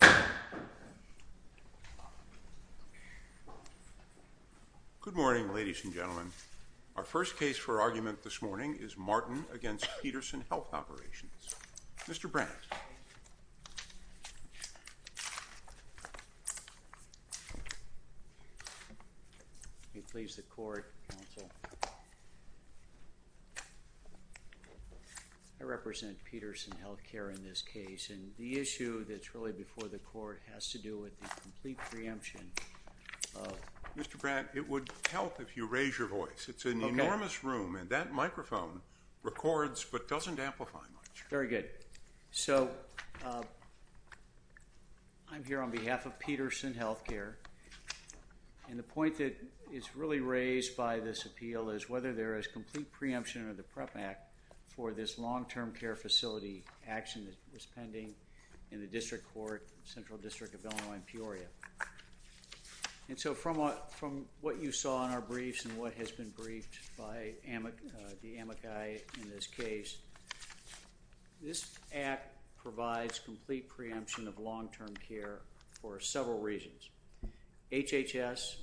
Good morning, ladies and gentlemen. Our first case for argument this morning is Martin v. Petersen Health Operations. Mr. Brandt. I represent Petersen Health Care in this case. And the issue that's really before the court has to do with the complete preemption of Mr. Brandt, it would help if you raise your voice. It's an enormous room and that microphone records but doesn't amplify much. Very good. So I'm here on behalf of Petersen Health Care. And the point that is really raised by this appeal is whether there is complete preemption of the PREP Act for this long-term care facility action that was pending in the district court, Central District of Illinois in Peoria. And so from what you saw in our briefs and what has been briefed by the amici in this case, this act provides complete preemption of long-term care for several reasons. HHS,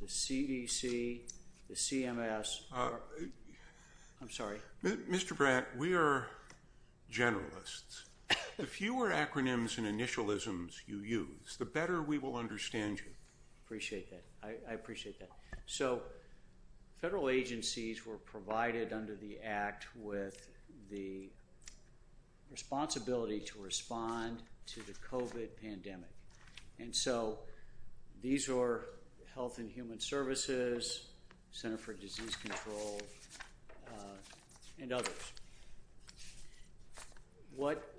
the CDC, the CMS. I'm sorry. Mr. Brandt, we are generalists. The fewer acronyms and initialisms you use, the better we will understand you. Appreciate that. I appreciate that. So federal agencies were provided under the act with the responsibility to respond to the COVID pandemic. And so these are Health and Human Services, Center for Disease Control, and others. What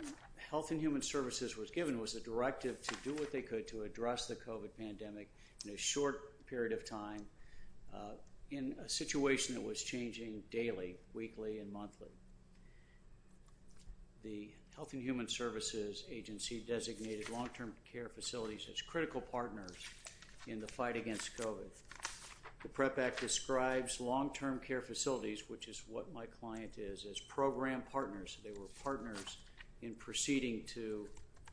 Health and Human Services was given was a directive to do what they could to address the COVID pandemic in a short period of time in a situation that was changing daily, weekly, and monthly. The Health and Human Services Agency designated long-term care facilities as critical partners in the fight against COVID. The PREP Act describes long-term care facilities, which is what my client is, as program partners. They were partners in proceeding to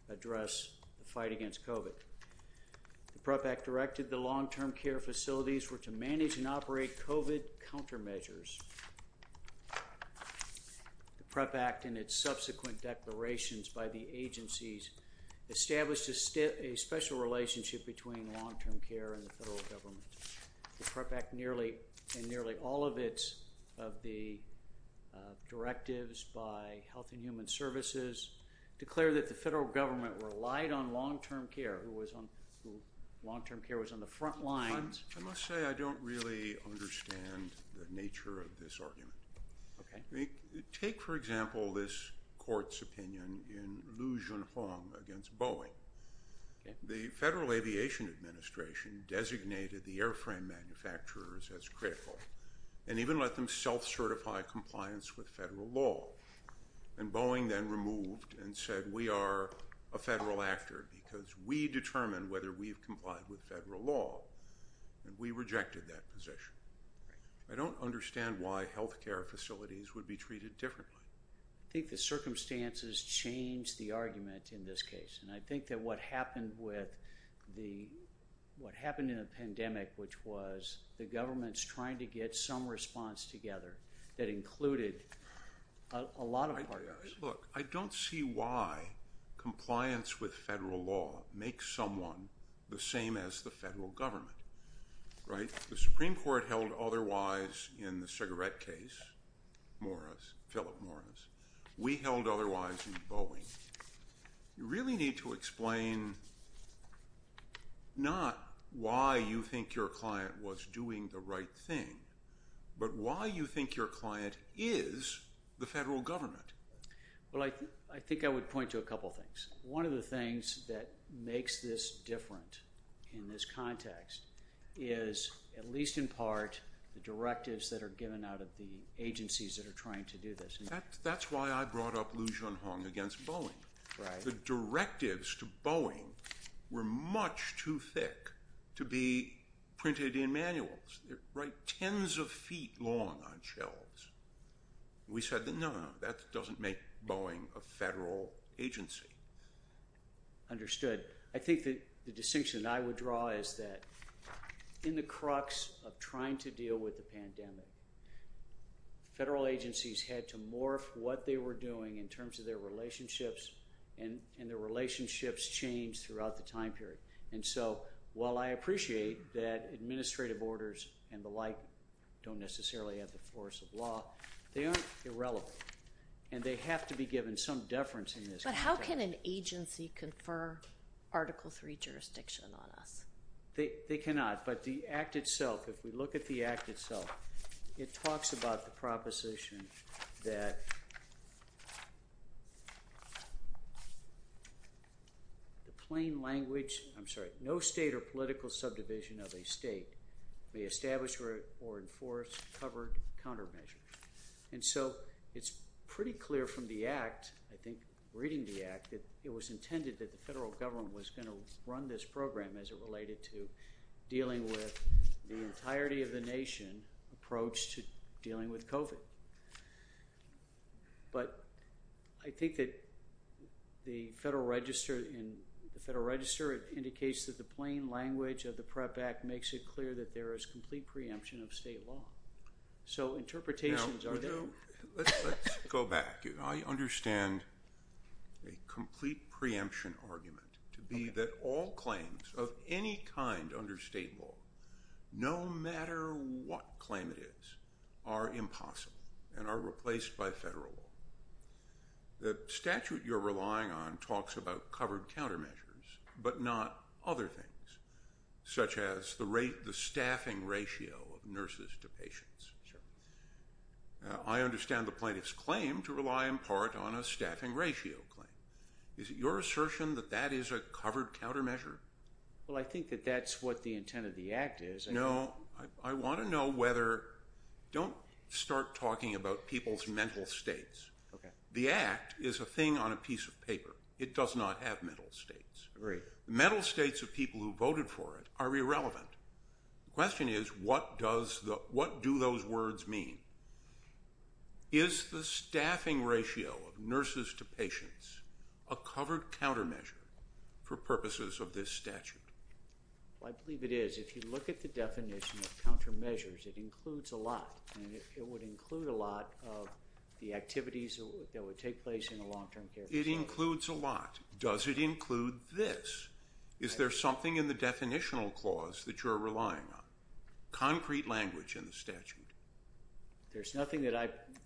address the fight against COVID. The PREP Act directed the long-term care facilities were to manage and operate COVID countermeasures. The PREP Act and its subsequent declarations by the agencies established a special relationship between long-term care and the federal government. The PREP Act and nearly all of the directives by Health and Human Services declared that the federal government relied on long-term care, who was on the front lines. I must say I don't really understand the nature of this argument. Take, for example, this court's opinion in Liu Junhong against Boeing. The Federal Aviation Administration designated the airframe manufacturers as critical and even let them self-certify compliance with federal law. And Boeing then removed and said, we are a federal actor because we determine whether we've complied with federal law, and we rejected that position. I don't understand why health care facilities would be treated differently. I think the circumstances change the argument in this case. And I think that what happened with the, what happened in a pandemic, which was the government's trying to get some response together that included a lot of partners. Look, I don't see why compliance with federal law makes someone the same as the federal government. Right? The Supreme Court held otherwise in the cigarette case, Morris, Philip Morris. We held otherwise in Boeing. You really need to explain not why you think your client was doing the right thing, but why you think your client is the federal government. Well, I think I would point to a couple things. One of the things that makes this different in this context is, at least in part, the directives that are given out of the agencies that are trying to do this. That's why I brought up Liu Junhong against Boeing. The directives to Boeing were much too thick to be printed in manuals, right, tens of feet long on shelves. We said, no, no, that doesn't make Boeing a federal agency. Understood. I think that the distinction that I would draw is that in the crux of trying to deal with the pandemic, federal agencies had to morph what they were doing in terms of their relationships, and their relationships changed throughout the time period. And so, while I appreciate that administrative orders and the like don't necessarily have the force of law, they aren't irrelevant. And they have to be given some deference in this context. But how can an agency confer Article III jurisdiction on us? They cannot. But the Act itself, if we look at the Act itself, it talks about the proposition that the plain language, I'm sorry, no state or political subdivision of a state may establish or enforce covered countermeasures. And so, it's pretty clear from the Act, I think reading the Act, that it was intended that the federal government was going to run this program as it related to dealing with the entirety of the nation approach to dealing with COVID. But I think that the Federal Register indicates that the plain language of the PREP Act makes it clear that there is complete preemption of state law. So, interpretations are there. Now, let's go back. I understand a complete preemption argument to be that all claims of any kind under state law, no matter what claim it is, are impossible and are replaced by federal law. The statute you're relying on talks about covered countermeasures, but not other things, such as the staffing ratio of nurses to patients. I understand the plaintiff's claim to rely in part on a staffing ratio claim. Is it your assertion that that is a covered countermeasure? Well, I think that that's what the intent of the Act is. No, I want to know whether, don't start talking about people's mental states. The Act is a thing on a piece of paper. It does not have mental states. Agreed. Mental states of people who voted for it are irrelevant. The question is, what do those words mean? Is the staffing ratio of nurses to patients a covered countermeasure for purposes of this statute? Well, I believe it is. If you look at the definition of countermeasures, it includes a lot, and it would include a lot of the activities that would take place in a long-term care facility. It includes a lot. Does it include this? Is there something in the definitional clause that you're relying on? Concrete language in the statute. There's nothing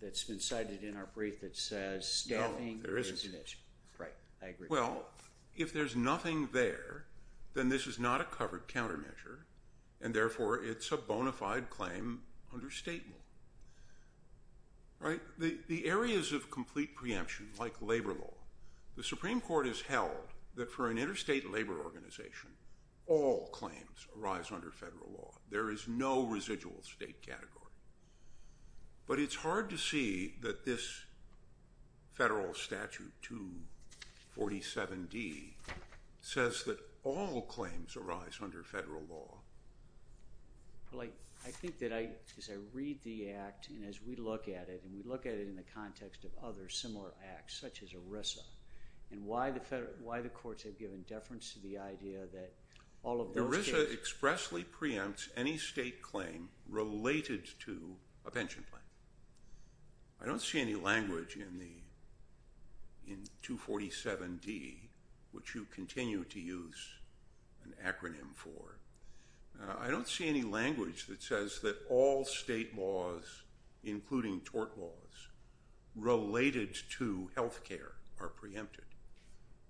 that's been cited in our brief that says staffing. No, there isn't. Right, I agree. Well, if there's nothing there, then this is not a covered countermeasure, and therefore it's a bona fide claim under state law. Right? The areas of complete preemption, like labor law, the Supreme Court has held that for an interstate labor organization, all claims arise under federal law. There is no residual state category. But it's hard to see that this federal statute, 247D, says that all claims arise under federal law. Well, I think that I, as I read the act, and as we look at it, and we look at it in the context of other similar acts, such as ERISA, and why the courts have given deference to the idea that all of those cases— ERISA expressly preempts any state claim related to a pension plan. I don't see any language in 247D, which you continue to use an acronym for. I don't see any language that says that all state laws, including tort laws, related to health care are preempted.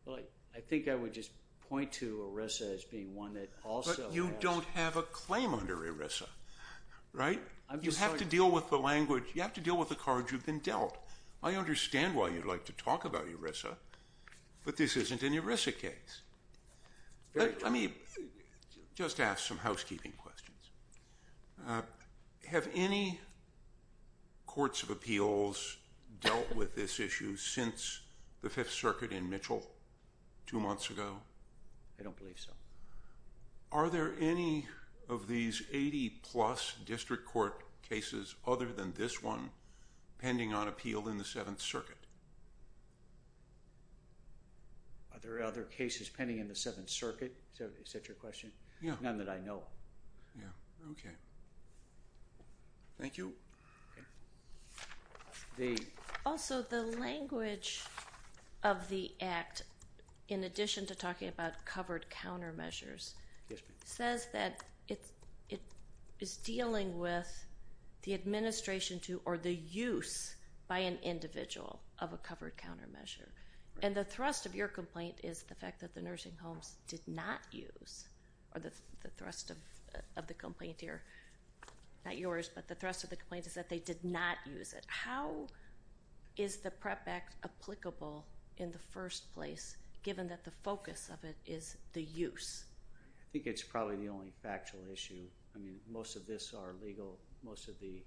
Well, I think I would just point to ERISA as being one that also— But you don't have a claim under ERISA, right? You have to deal with the language. You have to deal with the cards you've been dealt. I understand why you'd like to talk about ERISA, but this isn't an ERISA case. Let me just ask some housekeeping questions. Have any courts of appeals dealt with this issue since the Fifth Circuit in Mitchell two months ago? I don't believe so. Are there any of these 80-plus district court cases other than this one pending on appeal in the Seventh Circuit? Are there other cases pending in the Seventh Circuit? Is that your question? None that I know of. Yeah. Okay. Thank you. Also, the language of the Act, in addition to talking about covered countermeasures, says that it is dealing with the administration to—or the use by an individual. Of a covered countermeasure. And the thrust of your complaint is the fact that the nursing homes did not use, or the thrust of the complaint here—not yours, but the thrust of the complaint is that they did not use it. How is the PREP Act applicable in the first place, given that the focus of it is the use? I think it's probably the only factual issue. I mean, most of this are legal. Most of the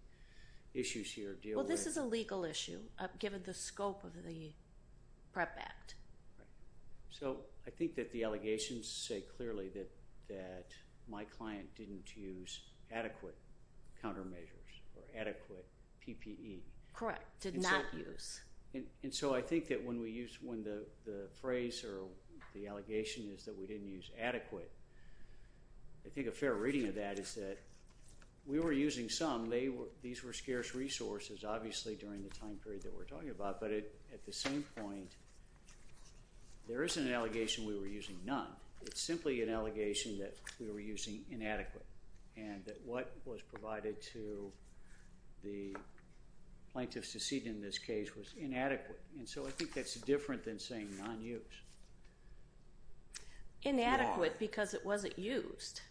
issues here deal with— This is a legal issue, given the scope of the PREP Act. So, I think that the allegations say clearly that my client didn't use adequate countermeasures or adequate PPE. Correct. Did not use. And so, I think that when we use—when the phrase or the allegation is that we didn't use adequate, I think a fair reading of that is that we were using some. These were scarce resources, obviously, during the time period that we're talking about. But at the same point, there isn't an allegation we were using none. It's simply an allegation that we were using inadequate and that what was provided to the plaintiffs to cede in this case was inadequate. And so, I think that's different than saying non-use. Inadequate because it wasn't used.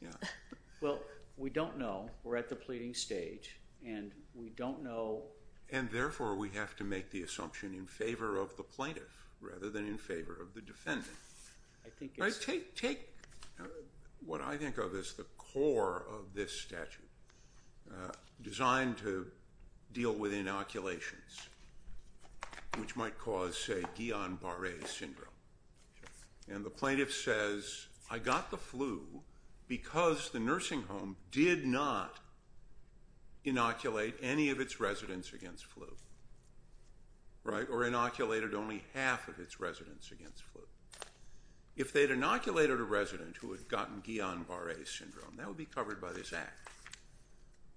Well, we don't know. We're at the pleading stage, and we don't know— And therefore, we have to make the assumption in favor of the plaintiff rather than in favor of the defendant. Take what I think of as the core of this statute designed to deal with inoculations, which might cause, say, Guillain-Barre syndrome. And the plaintiff says, I got the flu because the nursing home did not inoculate any of its residents against flu, right? Or inoculated only half of its residents against flu. If they'd inoculated a resident who had gotten Guillain-Barre syndrome, that would be covered by this act.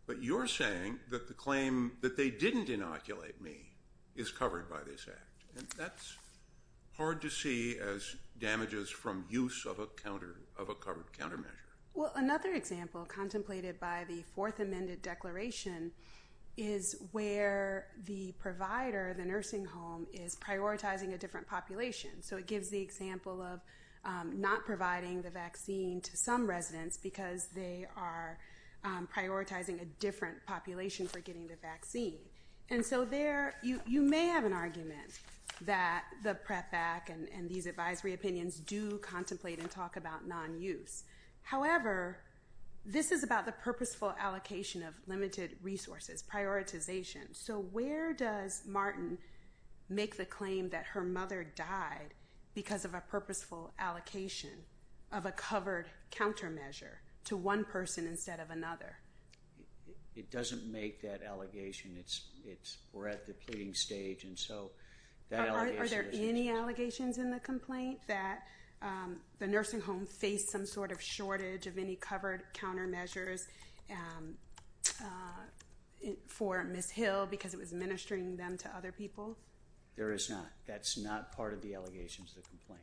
But you're saying that the claim that they didn't inoculate me is covered by this act. And that's hard to see as damages from use of a covered countermeasure. Well, another example contemplated by the Fourth Amended Declaration is where the provider, the nursing home, is prioritizing a different population. So, it gives the example of not providing the vaccine to some residents because they are prioritizing a different population for getting the vaccine. And so there, you may have an argument that the PREP Act and these advisory opinions do contemplate and talk about non-use. However, this is about the purposeful allocation of limited resources, prioritization. So, where does Martin make the claim that her mother died because of a purposeful allocation of a covered countermeasure to one person instead of another? It doesn't make that allegation. We're at the pleading stage. And so, that allegation... Are there any allegations in the complaint that the nursing home faced some sort of shortage of any covered countermeasures for Ms. Hill because it was administering them to other people? There is not. That's not part of the allegations of the complaint.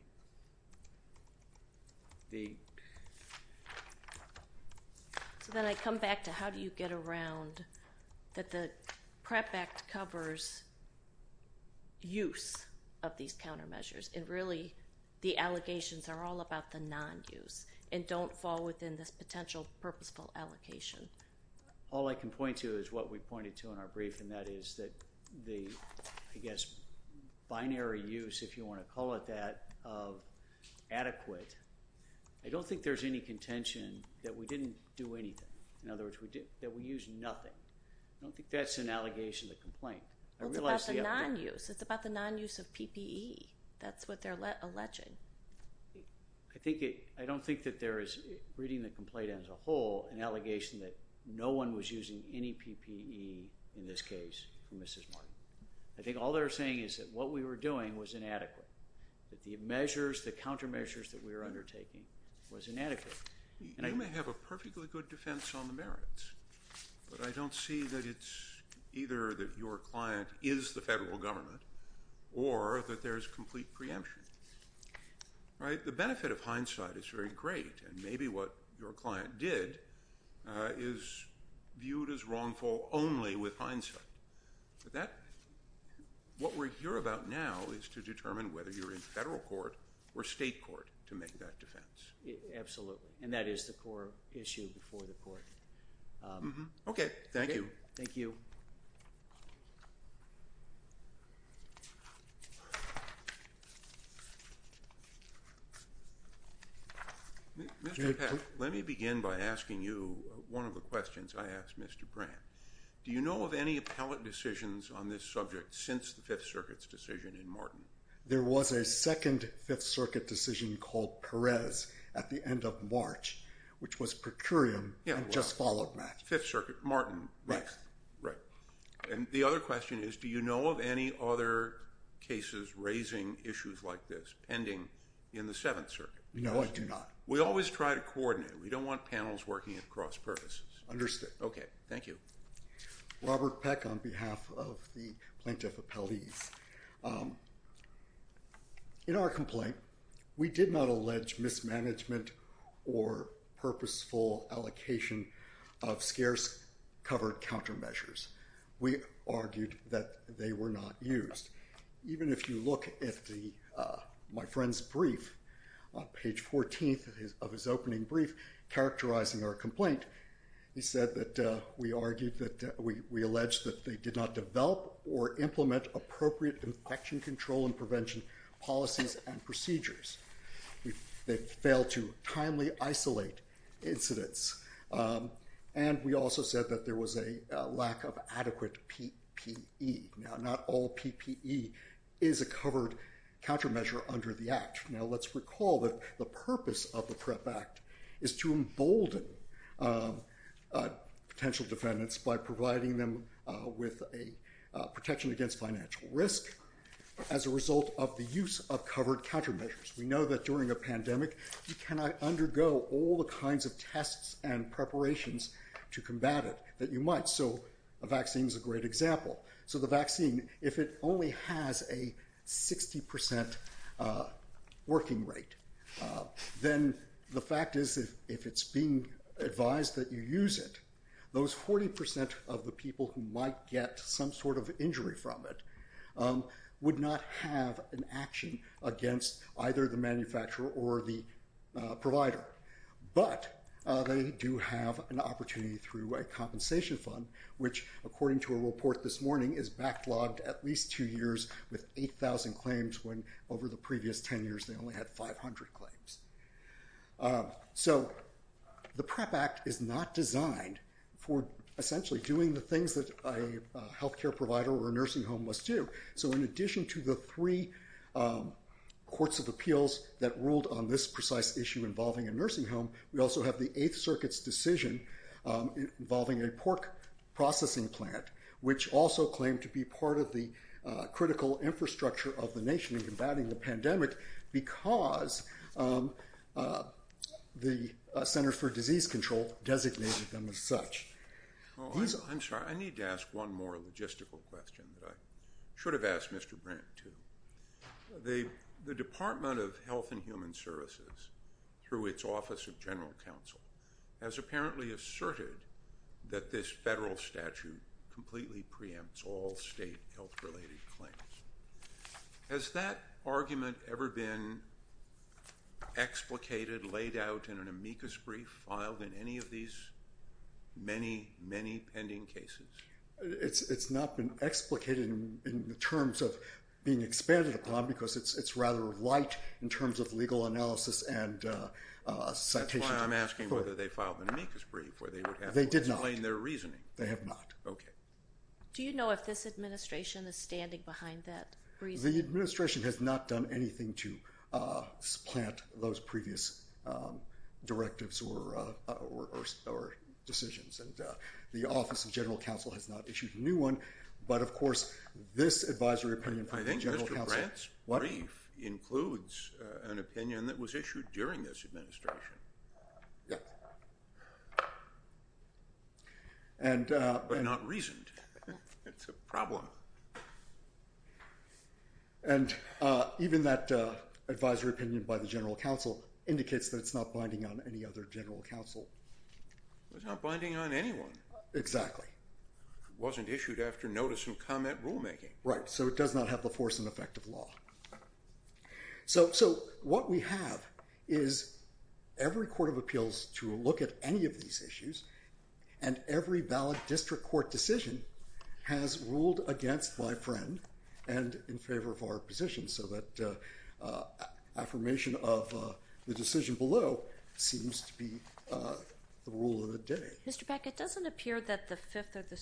So, then I come back to how do you get around that the PREP Act covers use of these countermeasures. And really, the allegations are all about the non-use and don't fall within this potential purposeful allocation. All I can point to is what we pointed to in our brief, and that is that the, I guess, binary use, if you want to call it that, of adequate. I don't think there's any contention that we didn't do anything. In other words, that we used nothing. I don't think that's an allegation of the complaint. I realize the other... Well, it's about the non-use. It's about the non-use of PPE. That's what they're alleging. I think it... I don't think that there is, reading the complaint as a whole, an allegation that no one was using any PPE in this case for Mrs. Martin. I think all they're saying is that what we were doing was inadequate, that the measures, the countermeasures that we were undertaking was inadequate. And I... You may have a perfectly good defense on the merits, but I don't see that it's either that your client is the federal government or that there's complete preemption, right? The benefit of hindsight is very great, and maybe what your client did is viewed as wrongful only with hindsight. But that... What we're here about now is to determine whether you're in federal court or state court to make that defense. Absolutely. And that is the core issue before the court. Okay. Thank you. Thank you. Mr. Papp, let me begin by asking you one of the questions I asked Mr. Brandt. Do you know of any appellate decisions on this subject since the Fifth Circuit's decision in Martin? There was a second Fifth Circuit decision called Perez at the end of March, which was per curiam and just followed that. Fifth Circuit, Martin. Right. Right. And the other question is, do you know of any other cases raising issues like this pending in the Seventh Circuit? No, I do not. We always try to coordinate. We don't want panels working at cross purposes. Understood. Okay. Thank you. Robert Peck on behalf of the Plaintiff Appellees. In our complaint, we did not allege mismanagement or purposeful allocation of scarce-covered countermeasures. We argued that they were not used. Even if you look at my friend's brief on page 14 of his opening brief characterizing our we allege that they did not develop or implement appropriate infection control and prevention policies and procedures. They failed to timely isolate incidents. And we also said that there was a lack of adequate PPE. Now, not all PPE is a covered countermeasure under the Act. Now, let's recall that the purpose of the PrEP Act is to embolden potential defendants by providing them with a protection against financial risk as a result of the use of covered countermeasures. We know that during a pandemic, you cannot undergo all the kinds of tests and preparations to combat it that you might. So a vaccine is a great example. So the vaccine, if it only has a 60% working rate, then the fact is if it's being advised that you use it, those 40% of the people who might get some sort of injury from it would not have an action against either the manufacturer or the provider. But they do have an opportunity through a compensation fund, which according to a report this morning is backlogged at least two years with 8,000 claims when over the previous 10 years they only had 500 claims. So the PrEP Act is not designed for essentially doing the things that a health care provider or a nursing home must do. So in addition to the three courts of appeals that ruled on this precise issue involving a nursing home, we also have the Eighth Circuit's decision involving a pork processing plant, which also claimed to be part of the critical infrastructure of the nation in combating the pandemic because the Center for Disease Control designated them as such. Well, I'm sorry. I need to ask one more logistical question that I should have asked Mr. Brandt too. The Department of Health and Human Services, through its Office of General Counsel, has apparently asserted that this federal statute completely preempts all state health-related claims. Has that argument ever been explicated, laid out in an amicus brief, filed in any of these many, many pending cases? It's not been explicated in terms of being expanded upon because it's rather light in terms of legal analysis and citation. That's why I'm asking whether they filed an amicus brief where they would have to explain their reasoning. They have not. OK. Do you know if this administration is standing behind that brief? The administration has not done anything to supplant those previous directives or decisions, and the Office of General Counsel has not issued a new one. But of course, this advisory opinion from the General Counsel— I think Mr. Brandt's brief includes an opinion that was issued during this administration, but not reasoned. It's a problem. And even that advisory opinion by the General Counsel indicates that it's not binding on any other General Counsel. It's not binding on anyone. Exactly. It wasn't issued after notice of comment rulemaking. Right. So it does not have the force and effect of law. So what we have is every court of appeals to look at any of these issues, and every valid district court decision has ruled against my friend and in favor of our position, so that affirmation of the decision below seems to be the rule of the day. Mr. Peck, it doesn't appear that the Fifth or the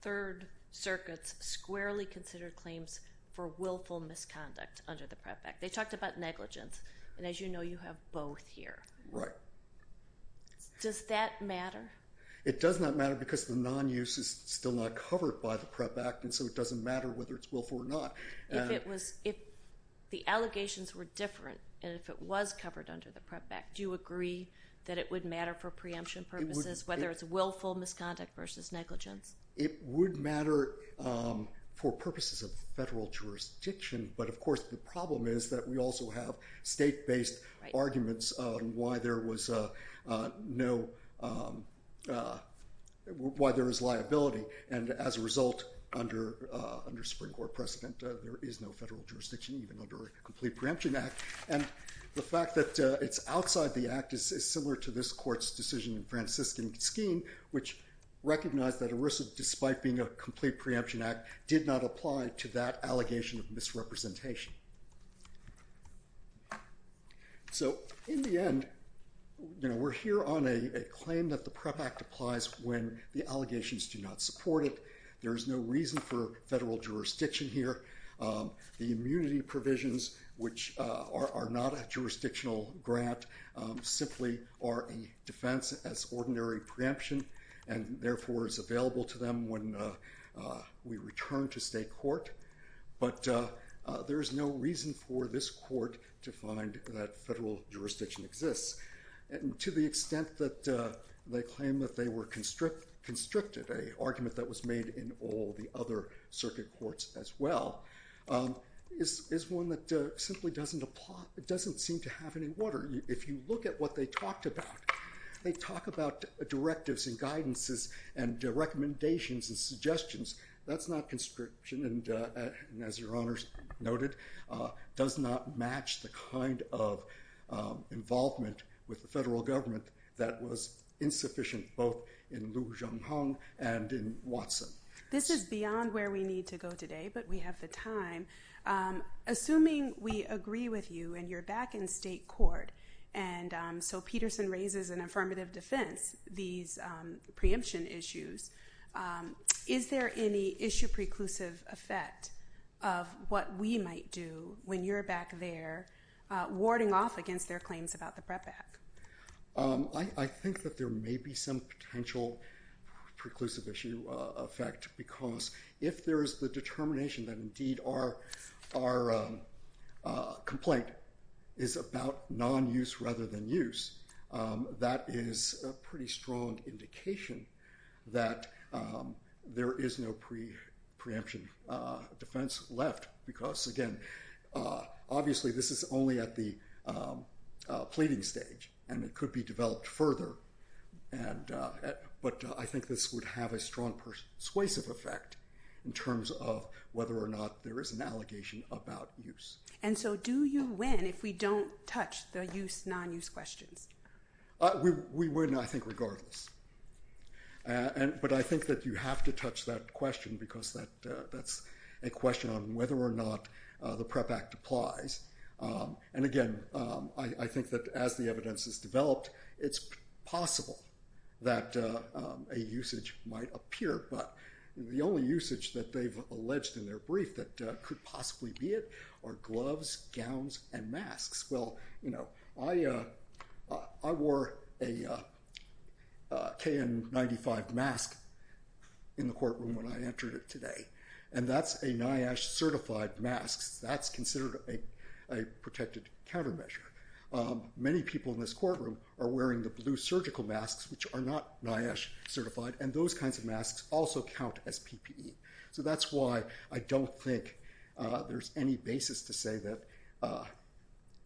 Third Circuits squarely considered claims for willful misconduct under the PREP Act. They talked about negligence, and as you know, you have both here. Right. Does that matter? It does not matter because the non-use is still not covered by the PREP Act, and so it doesn't matter whether it's willful or not. If the allegations were different and if it was covered under the PREP Act, do you agree that it would matter for preemption purposes, whether it's willful misconduct versus negligence? It would matter for purposes of federal jurisdiction, but of course, the problem is that we also have state-based arguments on why there is liability, and as a result, under Supreme Court precedent, there is no federal jurisdiction even under a complete preemption act. And the fact that it's outside the act is similar to this court's decision in Franciscan scheme, which recognized that ERISA, despite being a complete preemption act, did not apply to that allegation of misrepresentation. So in the end, we're here on a claim that the PREP Act applies when the allegations do not support it. There is no reason for federal jurisdiction here. The immunity provisions, which are not a jurisdictional grant, simply are a defense as ordinary preemption, and therefore is available to them when we return to state court. But there is no reason for this court to find that federal jurisdiction exists. To the extent that they claim that they were constricted, an argument that was made in all the other circuit courts as well, is one that simply doesn't seem to have any water. If you look at what they talked about, they talk about directives and guidances and recommendations and suggestions. That's not conscription, and as Your Honors noted, does not match the kind of involvement with the federal government that was insufficient both in Liu Zhonghong and in Watson. This is beyond where we need to go today, but we have the time. Assuming we agree with you and you're back in state court, and so Peterson raises an affirmative defense, these preemption issues, is there any issue preclusive effect of what we might do when you're back there warding off against their claims about the PREP Act? I think that there may be some potential preclusive issue effect, because if there is the determination that indeed our complaint is about non-use rather than use, that is a pretty strong indication that there is no preemption defense left. Because again, obviously this is only at the pleading stage, and it could be developed whether or not there is an allegation about use. And so do you win if we don't touch the use, non-use questions? We win, I think, regardless. But I think that you have to touch that question, because that's a question on whether or not the PREP Act applies. And again, I think that as the evidence is developed, it's possible that a usage might could possibly be it, or gloves, gowns, and masks. Well, I wore a KN95 mask in the courtroom when I entered it today, and that's a NIOSH certified mask. That's considered a protected countermeasure. Many people in this courtroom are wearing the blue surgical masks, which are not NIOSH So that's why I don't think there's any basis to say that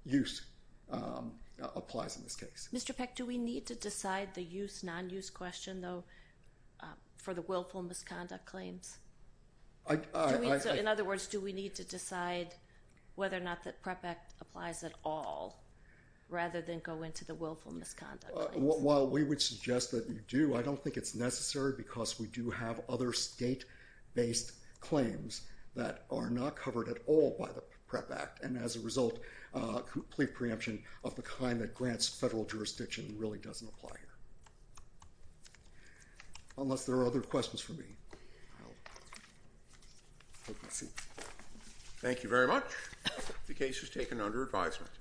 use applies in this case. Mr. Peck, do we need to decide the use, non-use question, though, for the willful misconduct claims? In other words, do we need to decide whether or not the PREP Act applies at all, rather than go into the willful misconduct claims? While we would suggest that you do, I don't think it's necessary because we do have other state-based claims that are not covered at all by the PREP Act, and as a result, plea preemption of the kind that grants federal jurisdiction really doesn't apply here. Unless there are other questions for me. Thank you very much. The case is taken under advisement.